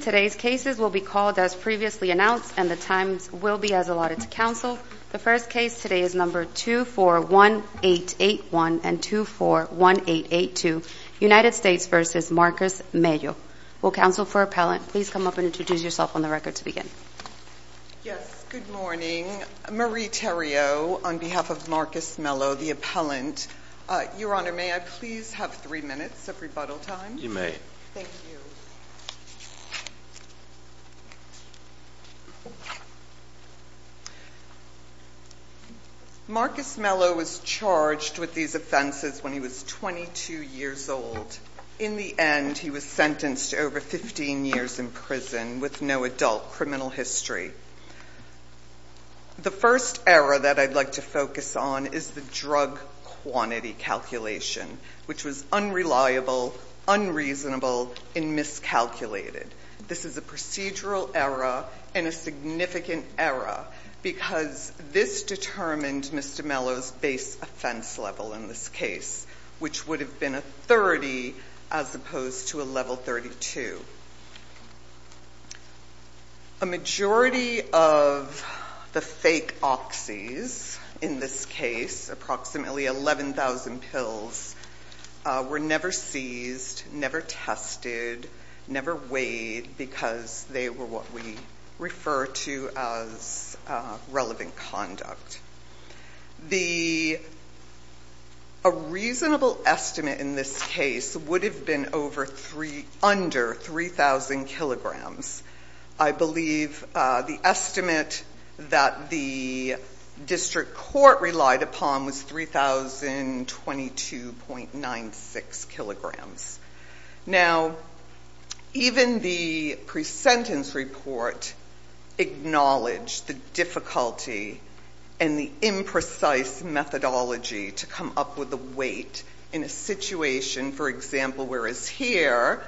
Today's cases will be called as previously announced, and the times will be as allotted to counsel. The first case today is No. 241881 and 241882, United States v. Marcus Mello. Will counsel for appellant please come up and introduce yourself on the record to begin? Yes, good morning. Marie Theriot on behalf of Marcus Mello, the appellant. Your Honor, may I please have three minutes of rebuttal time? You may. Thank you. Marcus Mello was charged with these offenses when he was 22 years old. In the end, he was sentenced to over 15 years in prison with no adult criminal history. The first error that I'd like to focus on is the drug quantity calculation, which was unreliable, unreasonable, and miscalculated. This is a procedural error and a significant error because this determined Mr. Mello's base offense level in this case, which would have been a 30 as opposed to a level 32. A majority of the fake oxys in this case, approximately 11,000 pills, were never seized, never tested, never weighed because they were what we refer to as relevant conduct. A reasonable estimate in this case would have been under 3,000 kilograms. I believe the estimate that the district court relied upon was 3,022.96 kilograms. Now, even the pre-sentence report acknowledged the difficulty and the imprecise methodology to come up with a weight in a situation, for example, where as here,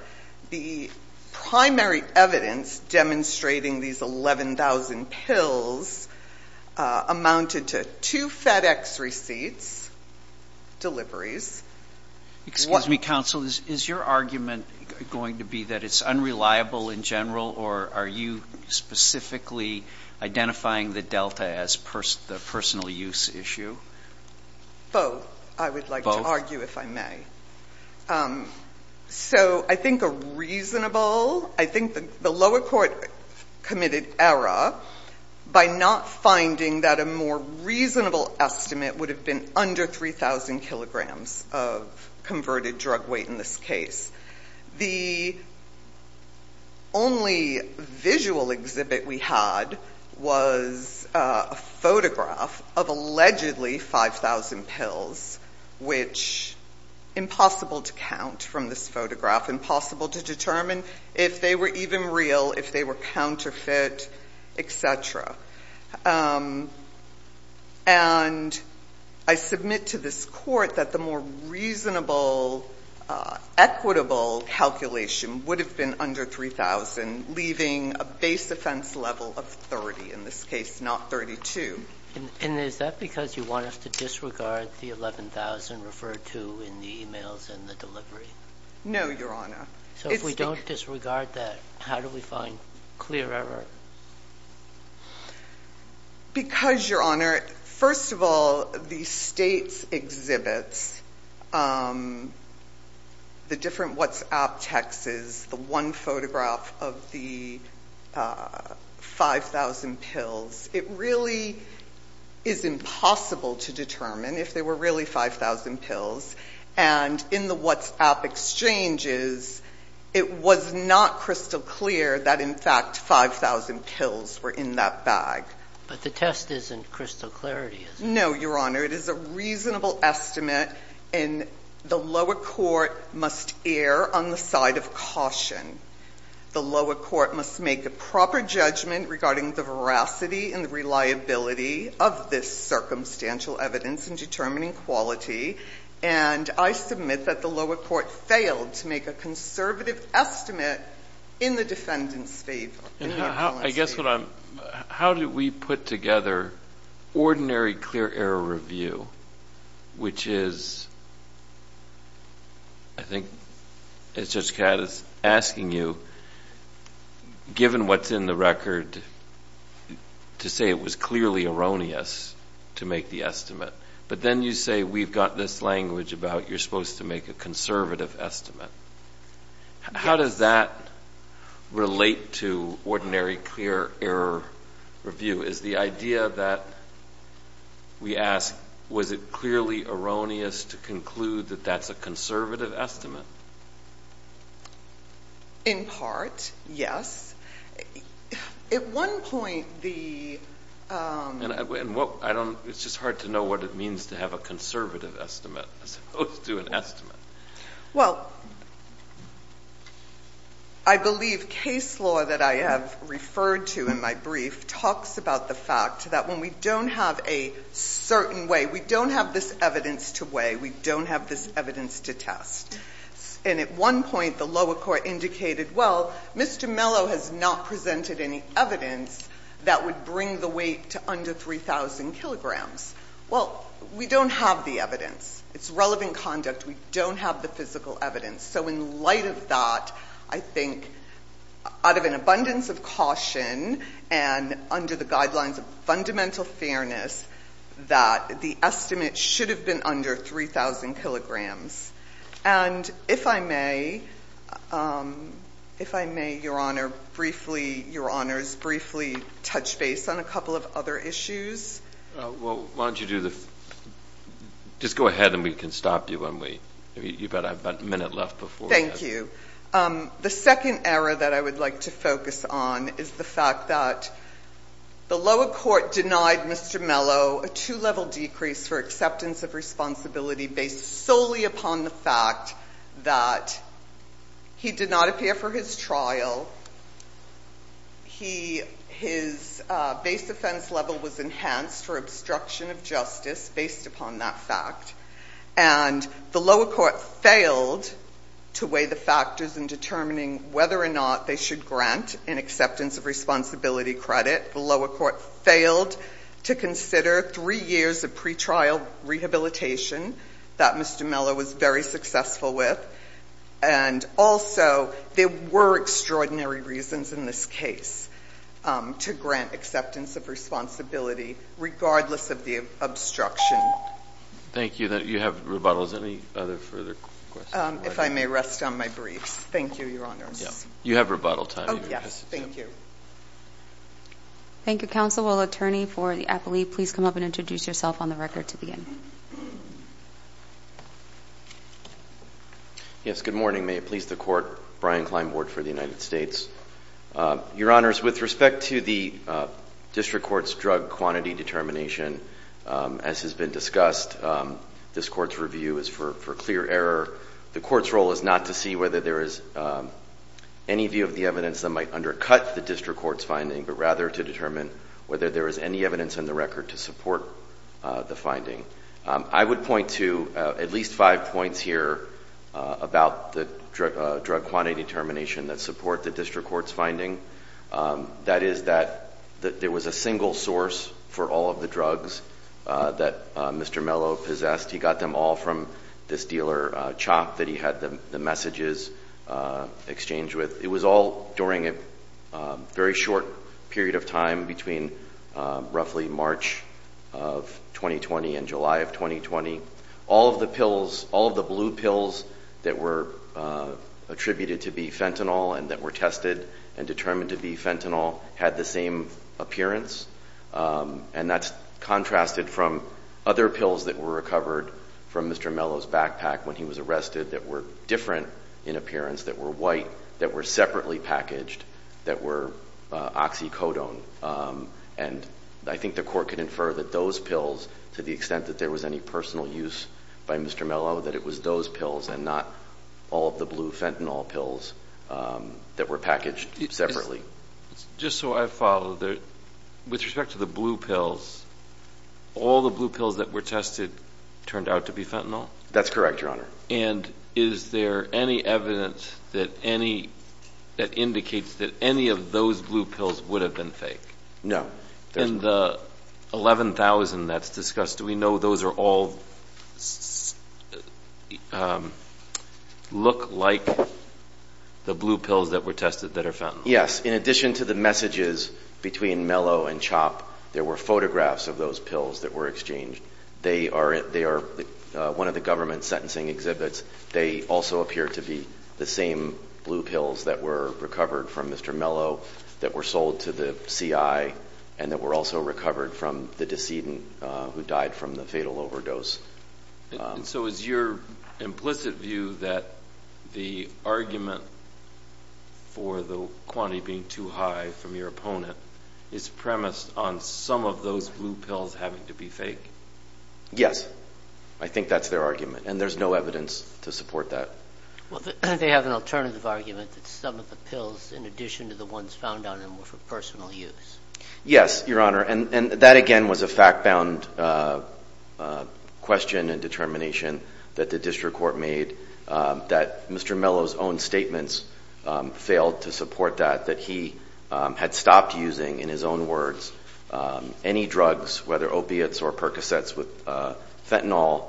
the primary evidence demonstrating these 11,000 pills amounted to two FedEx receipts, deliveries. Excuse me, counsel. Is your argument going to be that it's unreliable in general, or are you specifically identifying the delta as the personal use issue? Both, I would like to argue, if I may. So I think a reasonable, I think the lower court committed error by not finding that a more reasonable estimate would have been under 3,000 kilograms of converted drug weight in this case. The only visual exhibit we had was a photograph of allegedly 5,000 pills, which impossible to count from this photograph, impossible to determine if they were even real, if they were counterfeit, et cetera. And I submit to this court that the more reasonable, equitable calculation would have been under 3,000, leaving a base offense level of 30, in this case, not 32. And is that because you want us to disregard the 11,000 referred to in the emails and the No, Your Honor. So if we don't disregard that, how do we find clear error? Because Your Honor, first of all, the state's exhibits, the different WhatsApp texts, the one photograph of the 5,000 pills, it really is impossible to determine if they were really 5,000 pills. And in the WhatsApp exchanges, it was not crystal clear that in fact 5,000 pills were in that bag. But the test isn't crystal clarity, is it? No, Your Honor. It is a reasonable estimate, and the lower court must err on the side of caution. The lower court must make a proper judgment regarding the veracity and the reliability of this circumstantial evidence in determining quality. And I submit that the lower court failed to make a conservative estimate in the defendant's favor. I guess what I'm, how do we put together ordinary clear error review, which is, I think, as Brad is asking you, given what's in the record, to say it was clearly erroneous to make the But then you say we've got this language about you're supposed to make a conservative estimate. How does that relate to ordinary clear error review? Is the idea that we ask, was it clearly erroneous to conclude that that's a conservative estimate? In part, yes. At one point, the And what, I don't, it's just hard to know what it means to have a conservative estimate as opposed to an estimate. Well, I believe case law that I have referred to in my brief talks about the fact that when we don't have a certain way, we don't have this evidence to weigh, we don't have this evidence to test. And at one point, the lower court indicated, well, Mr. Mello has not presented any evidence that would bring the weight to under 3,000 kilograms. Well, we don't have the evidence. It's relevant conduct. We don't have the physical evidence. So in light of that, I think, out of an abundance of caution and under the guidelines of fundamental fairness, that the estimate should have been under 3,000 kilograms. And if I may, if I may, Your Honor, briefly, Your Honors, briefly touch base on a couple of other issues. Well, why don't you do the, just go ahead and we can stop you when we, you've got about a minute left before. Thank you. The second error that I would like to focus on is the fact that the lower court denied Mr. Mello a two-level decrease for acceptance of responsibility based solely upon the fact that he did not appear for his trial. He, his base offense level was enhanced for obstruction of justice based upon that fact. And the lower court failed to weigh the factors in determining whether or not they should grant an acceptance of responsibility credit. The lower court failed to consider three years of pretrial rehabilitation that Mr. Mello was very successful with. And also, there were extraordinary reasons in this case to grant acceptance of responsibility, regardless of the obstruction. Thank you. You have rebuttals. Any other further questions? If I may rest on my briefs. Thank you, Your Honors. You have rebuttal time. Thank you. Thank you, Counsel. Will the attorney for the athlete please come up and introduce yourself on the record to begin? Yes. Good morning. May it please the Court. Brian Klein, Board for the United States. Your Honors, with respect to the district court's drug quantity determination, as has been discussed, this court's review is for clear error. The court's role is not to see whether there is any view of the evidence that might undercut the district court's finding, but rather to determine whether there is any evidence in the record to support the finding. I would point to at least five points here about the drug quantity determination that support the district court's finding. That is that there was a single source for all of the drugs that Mr. Mello possessed. He got them all from this dealer, CHOP, that he had the messages exchanged with. It was all during a very short period of time between roughly March of 2020 and July of 2020. All of the pills, all of the blue pills that were attributed to be fentanyl and that were tested and determined to be fentanyl had the same appearance. And that's contrasted from other pills that were recovered from Mr. Mello's backpack when he was arrested that were different in appearance, that were white, that were separately packaged, that were oxycodone. And I think the court can infer that those pills, to the extent that there was any personal use by Mr. Mello, that it was those pills and not all of the blue fentanyl pills that were packaged separately. Just so I follow, with respect to the blue pills, all the blue pills that were tested turned out to be fentanyl? That's correct, Your Honor. And is there any evidence that indicates that any of those blue pills would have been fake? No. In the 11,000 that's discussed, do we know those all look like the blue pills that were tested that are fentanyl? Yes. In addition to the messages between Mello and Chopp, there were photographs of those pills that were exchanged. They are one of the government sentencing exhibits. They also appear to be the same blue pills that were recovered from Mr. Mello, that were sold to the CI, and that were also recovered from the decedent who died from the fatal overdose. So is your implicit view that the argument for the quantity being too high from your opponent is premised on some of those blue pills having to be fake? Yes. I think that's their argument, and there's no evidence to support that. Well, they have an alternative argument that some of the pills, in addition to the ones found on them, were for personal use. Yes, Your Honor. And that, again, was a fact-bound question and determination that the district court made, that Mr. Mello's own statements failed to support that, that he had stopped using, in his own words, any drugs, whether opiates or Percocets with fentanyl,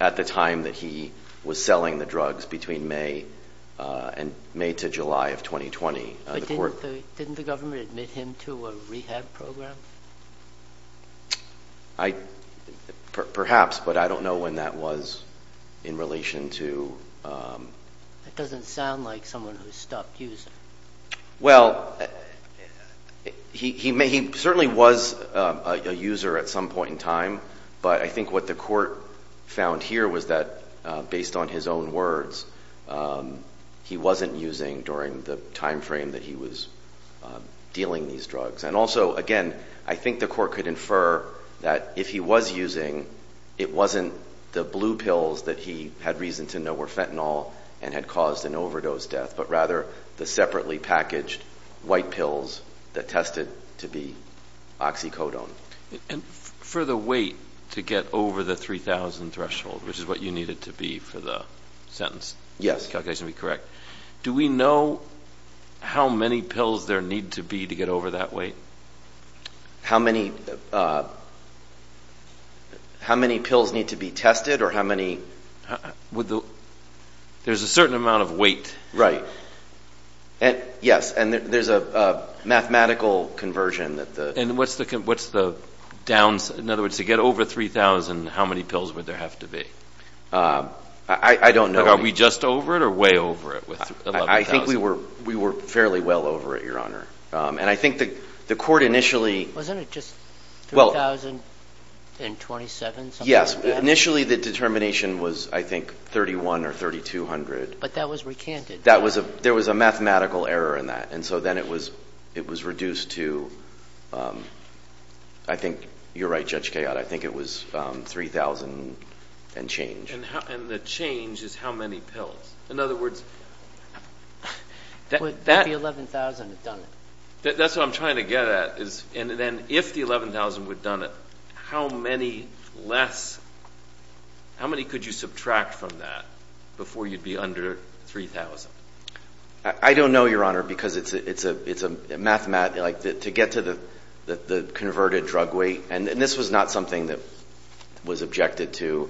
at the time that he was selling the drugs, between May and May to July of 2020. But didn't the government admit him to a rehab program? Perhaps, but I don't know when that was in relation to... That doesn't sound like someone who stopped using. Well, he certainly was a user at some point in time, but I think what the court found here was that, based on his own words, he wasn't using during the time frame that he was dealing these drugs. And also, again, I think the court could infer that if he was using, it wasn't the blue pills that he had reason to know were fentanyl and had caused an overdose death, but rather the separately packaged white pills that tested to be oxycodone. And for the weight to get over the 3,000 threshold, which is what you needed to be for the sentence... Yes. Calculation to be correct, do we know how many pills there need to be to get over that weight? How many pills need to be tested, or how many... There's a certain amount of weight. Right. Yes. And there's a mathematical conversion that the... And what's the downs... In other words, to get over 3,000, how many pills would there have to be? I don't know. Are we just over it or way over it with 11,000? I think we were fairly well over it, Your Honor. And I think the court initially... Wasn't it just 3,027? Yes. Initially, the determination was, I think, 3,100 or 3,200. But that was recanted. There was a mathematical error in that. And so then it was reduced to... I think you're right, Judge Kayotte. I think it was 3,000 and change. And the change is how many pills. In other words... Would the 11,000 have done it? That's what I'm trying to get at. And then if the 11,000 would have done it, how many less... How many could you subtract from that before you'd be under 3,000? I don't know, Your Honor, because it's a math... To get to the converted drug weight... And this was not something that was objected to.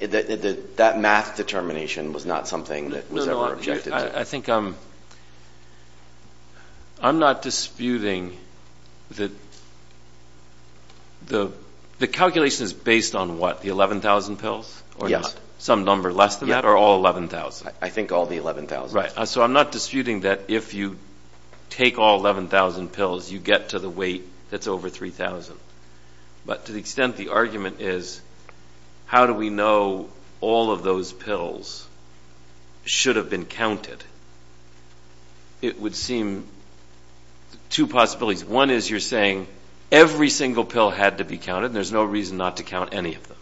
That math determination was not something that was ever objected to. I think... I'm not disputing that... The calculation is based on what? The 11,000 pills? Yes. Some number less than that? Or all 11,000? I think all the 11,000. Right. So I'm not disputing that if you take all 11,000 pills, you get to the weight that's over 3,000. But to the extent the argument is, how do we know all of those pills should have been counted? It would seem... Two possibilities. One is you're saying every single pill had to be counted and there's no reason not to count any of them.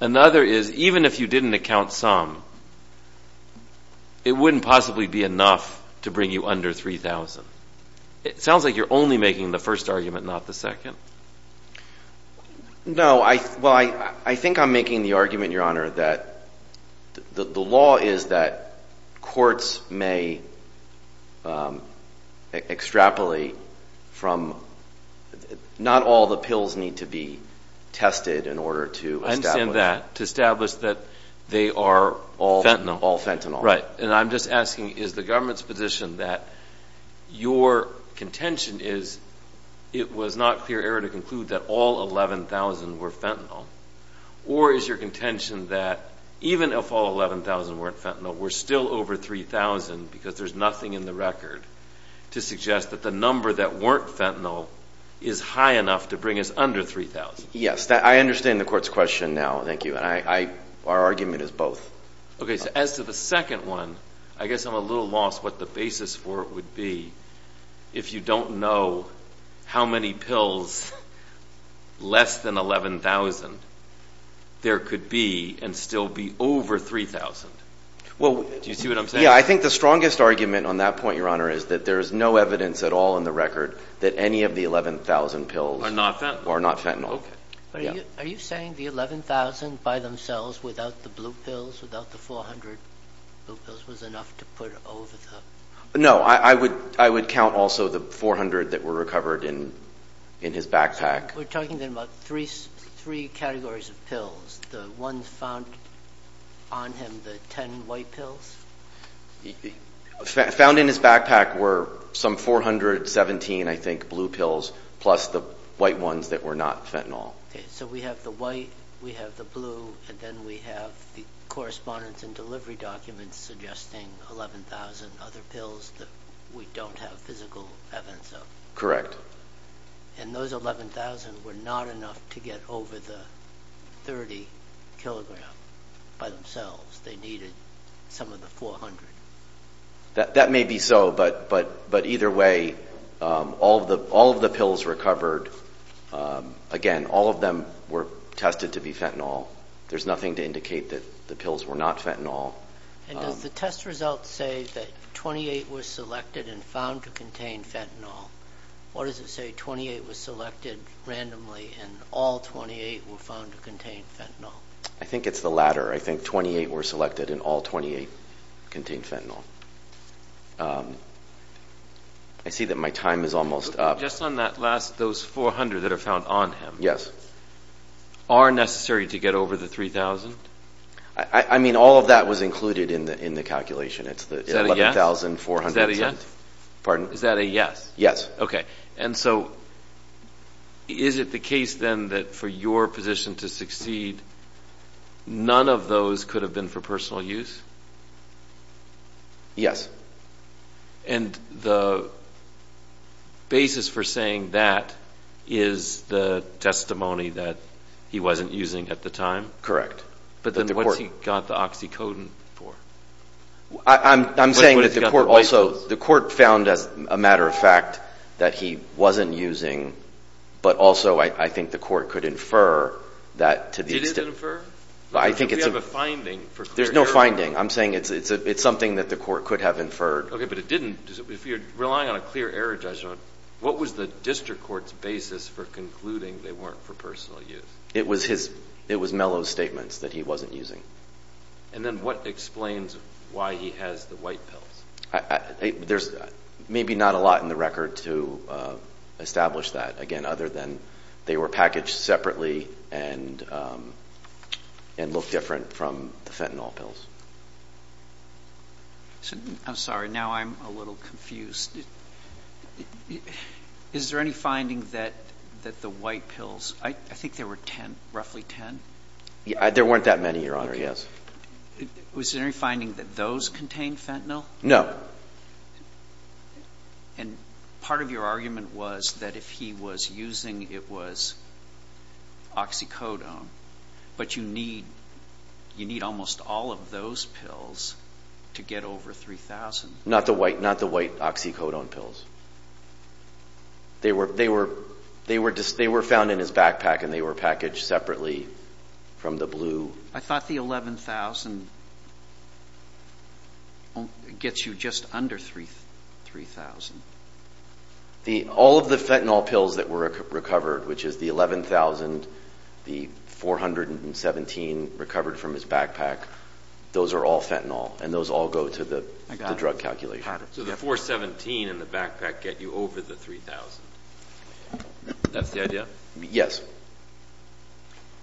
Another is even if you didn't count some, it wouldn't possibly be enough to bring you under 3,000. It sounds like you're only making the first argument, not the second. No. Well, I think I'm making the argument, Your Honor, that the law is that courts may extrapolate from... Not all the pills need to be tested in order to establish... I understand that. To establish that they are all fentanyl. All fentanyl. Right. And I'm just asking, is the government's position that your contention is it was not clear error to conclude that all 11,000 were fentanyl? Or is your contention that even if all 11,000 weren't fentanyl, we're still over 3,000 because there's nothing in the record to suggest that the number that weren't fentanyl is high enough to bring us under 3,000? Yes. I understand the court's question now, thank you. Our argument is both. Okay. So as to the second one, I guess I'm a little lost what the basis for it would be if you don't know how many pills less than 11,000 there could be and still be over 3,000. Do you see what I'm saying? Yeah, I think the strongest argument on that point, Your Honor, is that there is no evidence at all in the record that any of the 11,000 pills are not fentanyl. Are you saying the 11,000 by themselves without the blue pills, without the 400 blue pills was enough to put over the... No, I would count also the 400 that were recovered in his backpack. We're talking then about three categories of pills. The ones found on him, the 10 white pills? Found in his backpack were some 417, I think, blue pills plus the white ones that were not fentanyl. So we have the white, we have the blue, and then we have the correspondence and delivery documents suggesting 11,000 other pills that we don't have physical evidence of. Correct. And those 11,000 were not enough to get over the 30 kilogram by themselves. They needed some of the 400. That may be so, but either way, all of the pills recovered, again, all of them were tested to be fentanyl. There's nothing to indicate that the pills were not fentanyl. And does the test result say that 28 were selected and found to contain fentanyl? Or does it say 28 were selected randomly and all 28 were found to contain fentanyl? I think it's the latter. I think 28 were selected and all 28 contained fentanyl. I see that my time is almost up. Just on that last, those 400 that are found on him. Yes. Are necessary to get over the 3,000? I mean, all of that was included in the calculation. Is that a yes? It's the 11,400. Is that a yes? Pardon? Is that a yes? Yes. Okay. And so, is it the case then that for your position to succeed, none of those could have been for personal use? Yes. And the basis for saying that is the testimony that he wasn't using at the time? Correct. But then what's he got the oxycodone for? I'm saying that the court also, the court found, as a matter of fact, that he wasn't using, but also I think the court could infer that to the extent... I think it's... We have a finding for... There's no finding. I'm saying it's something that the court could have inferred. Okay. But it didn't. If you're relying on a clear error judgment, what was the district court's basis for concluding they weren't for personal use? It was his... It was Mello's statements that he wasn't using. And then what explains why he has the white pills? There's maybe not a lot in the record to establish that, again, other than they were packaged separately and look different from the fentanyl pills. I'm sorry. Now I'm a little confused. Is there any finding that the white pills... I think there were 10, roughly 10. There weren't that many, Your Honor, yes. Was there any finding that those contained fentanyl? No. And part of your argument was that if he was using, it was oxycodone, but you need almost all of those pills to get over 3,000. Not the white oxycodone pills. They were found in his backpack, and they were packaged separately from the blue. I thought the 11,000 gets you just under 3,000. All of the fentanyl pills that were recovered, which is the 11,000, the 417 recovered from his backpack, those are all fentanyl, and those all go to the drug calculation. So the 417 in the backpack get you over the 3,000. That's the idea? Yes.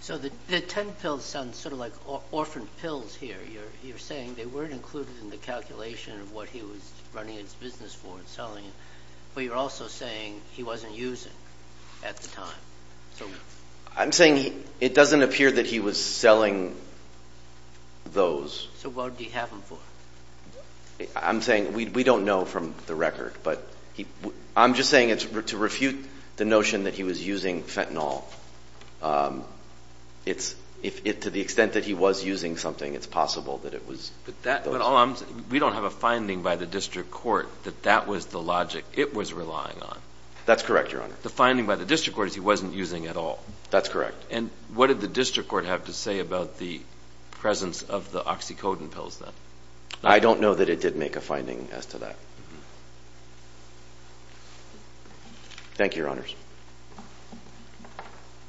So the 10 pills sound sort of like orphan pills here. You're saying they weren't included in the calculation of what he was running his business for and selling, but you're also saying he wasn't using at the time. I'm saying it doesn't appear that he was selling those. So what would he have them for? I'm saying we don't know from the record, but I'm just saying to refute the notion that he was using fentanyl, to the extent that he was using something, it's possible that it was those. But we don't have a finding by the district court that that was the logic it was relying on. That's correct, Your Honor. The finding by the district court is he wasn't using at all. That's correct. And what did the district court have to say about the presence of the oxycodone pills then? I don't know that it did make a finding as to that. Thank you, Your Honors.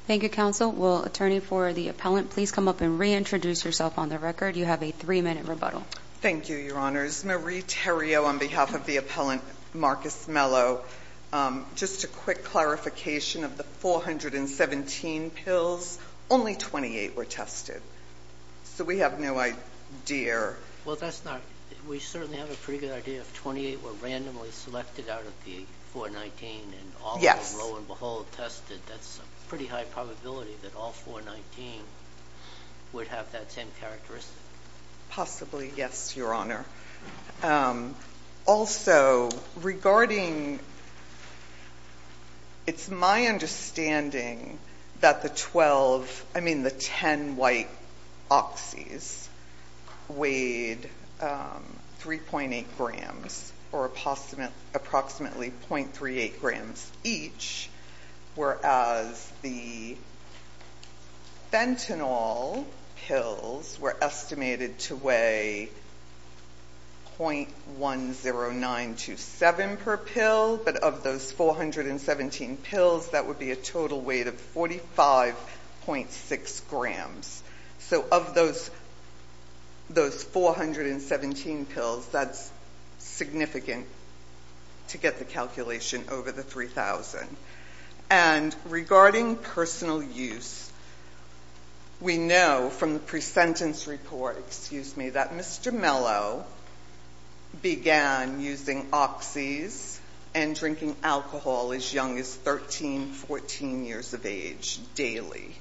Thank you, counsel. Will attorney for the appellant please come up and reintroduce herself on the record? You have a three-minute rebuttal. Thank you, Your Honors. Marie Terrio on behalf of the appellant, Marcus Mello. Just a quick clarification of the 417 pills. Only 28 were tested. So we have no idea. Well, that's not... We certainly have a pretty good idea of 28 were randomly selected out of the 419 and all of them, lo and behold, tested. That's a pretty high probability that all 419 would have that same characteristic. Possibly, yes, Your Honor. Also, regarding... It's my understanding that the 12, I mean the 10 white oxys weighed 3.8 grams or approximately .38 grams each whereas the fentanyl pills were estimated to weigh .10927 per pill but of those 417 pills, that would be a total weight of 45.6 grams. So of those 417 pills, that's significant to get the calculation over the 3,000. And regarding personal use, we know from the pre-sentence report, excuse me, that Mr. Mello began using oxys and drinking alcohol as young as 13, 14 years of age daily.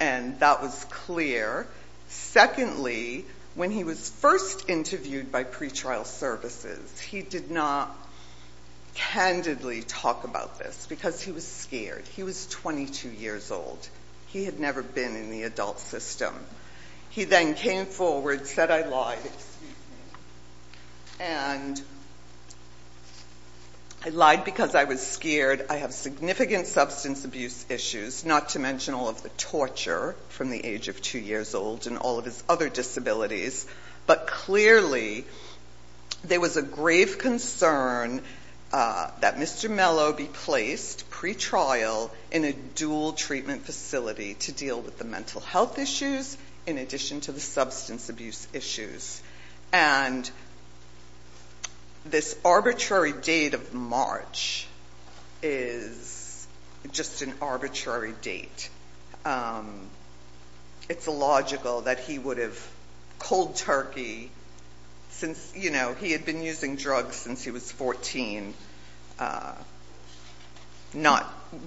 And that was clear. Secondly, when he was first interviewed by pretrial services, he did not candidly talk about this because he was scared. He was 22 years old. He had never been in the adult system. He then came forward, said, I lied, excuse me, and I lied because I was scared. I have significant substance abuse issues, not to mention all of the torture from the age of two years old and all of his other disabilities. But clearly, there was a grave concern that Mr. Mello be placed pretrial in a dual treatment facility to deal with the mental health issues in addition to the substance abuse issues. And this arbitrary date of March is just an arbitrary date. It's illogical that he would have cold turkey since, you know, he had been using drugs since he was 14,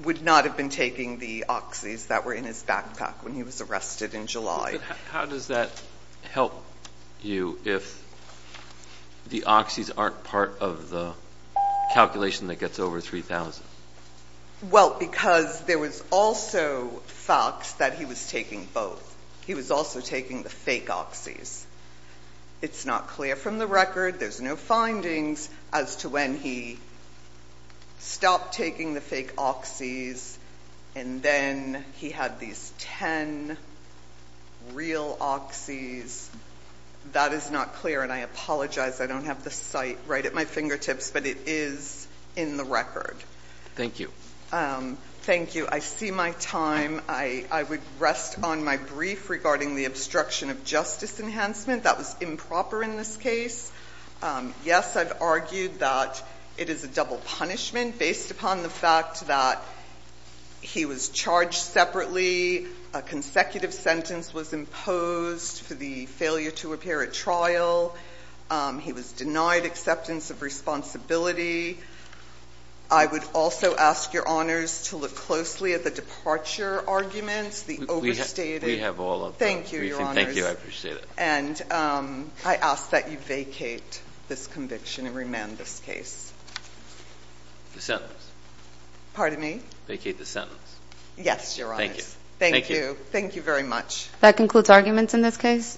would not have been taking the oxys that were in his backpack when he was arrested in July. How does that help you if the oxys aren't part of the calculation that gets over 3,000? Well, because there was also facts that he was taking both. He was also taking the fake oxys. It's not clear from the record. There's no findings as to when he stopped taking the fake oxys. And then he had these 10 real oxys. That is not clear, and I apologize. I don't have the site right at my fingertips, but it is in the record. Thank you. Thank you. I see my time. I would rest on my brief regarding the obstruction of justice enhancement. That was improper in this case. Yes, I've argued that it is a double punishment based upon the fact that he was charged separately. A consecutive sentence was imposed for the failure to appear at trial. He was denied acceptance of responsibility. I would also ask your honors to look closely at the departure arguments, the overstated. We have all of them. Thank you, your honors. Thank you. I appreciate it. And I ask that you vacate this conviction and remand this case. The sentence. Pardon me? Vacate the sentence. Yes, your honors. Thank you. Thank you. Thank you very much. That concludes arguments in this case.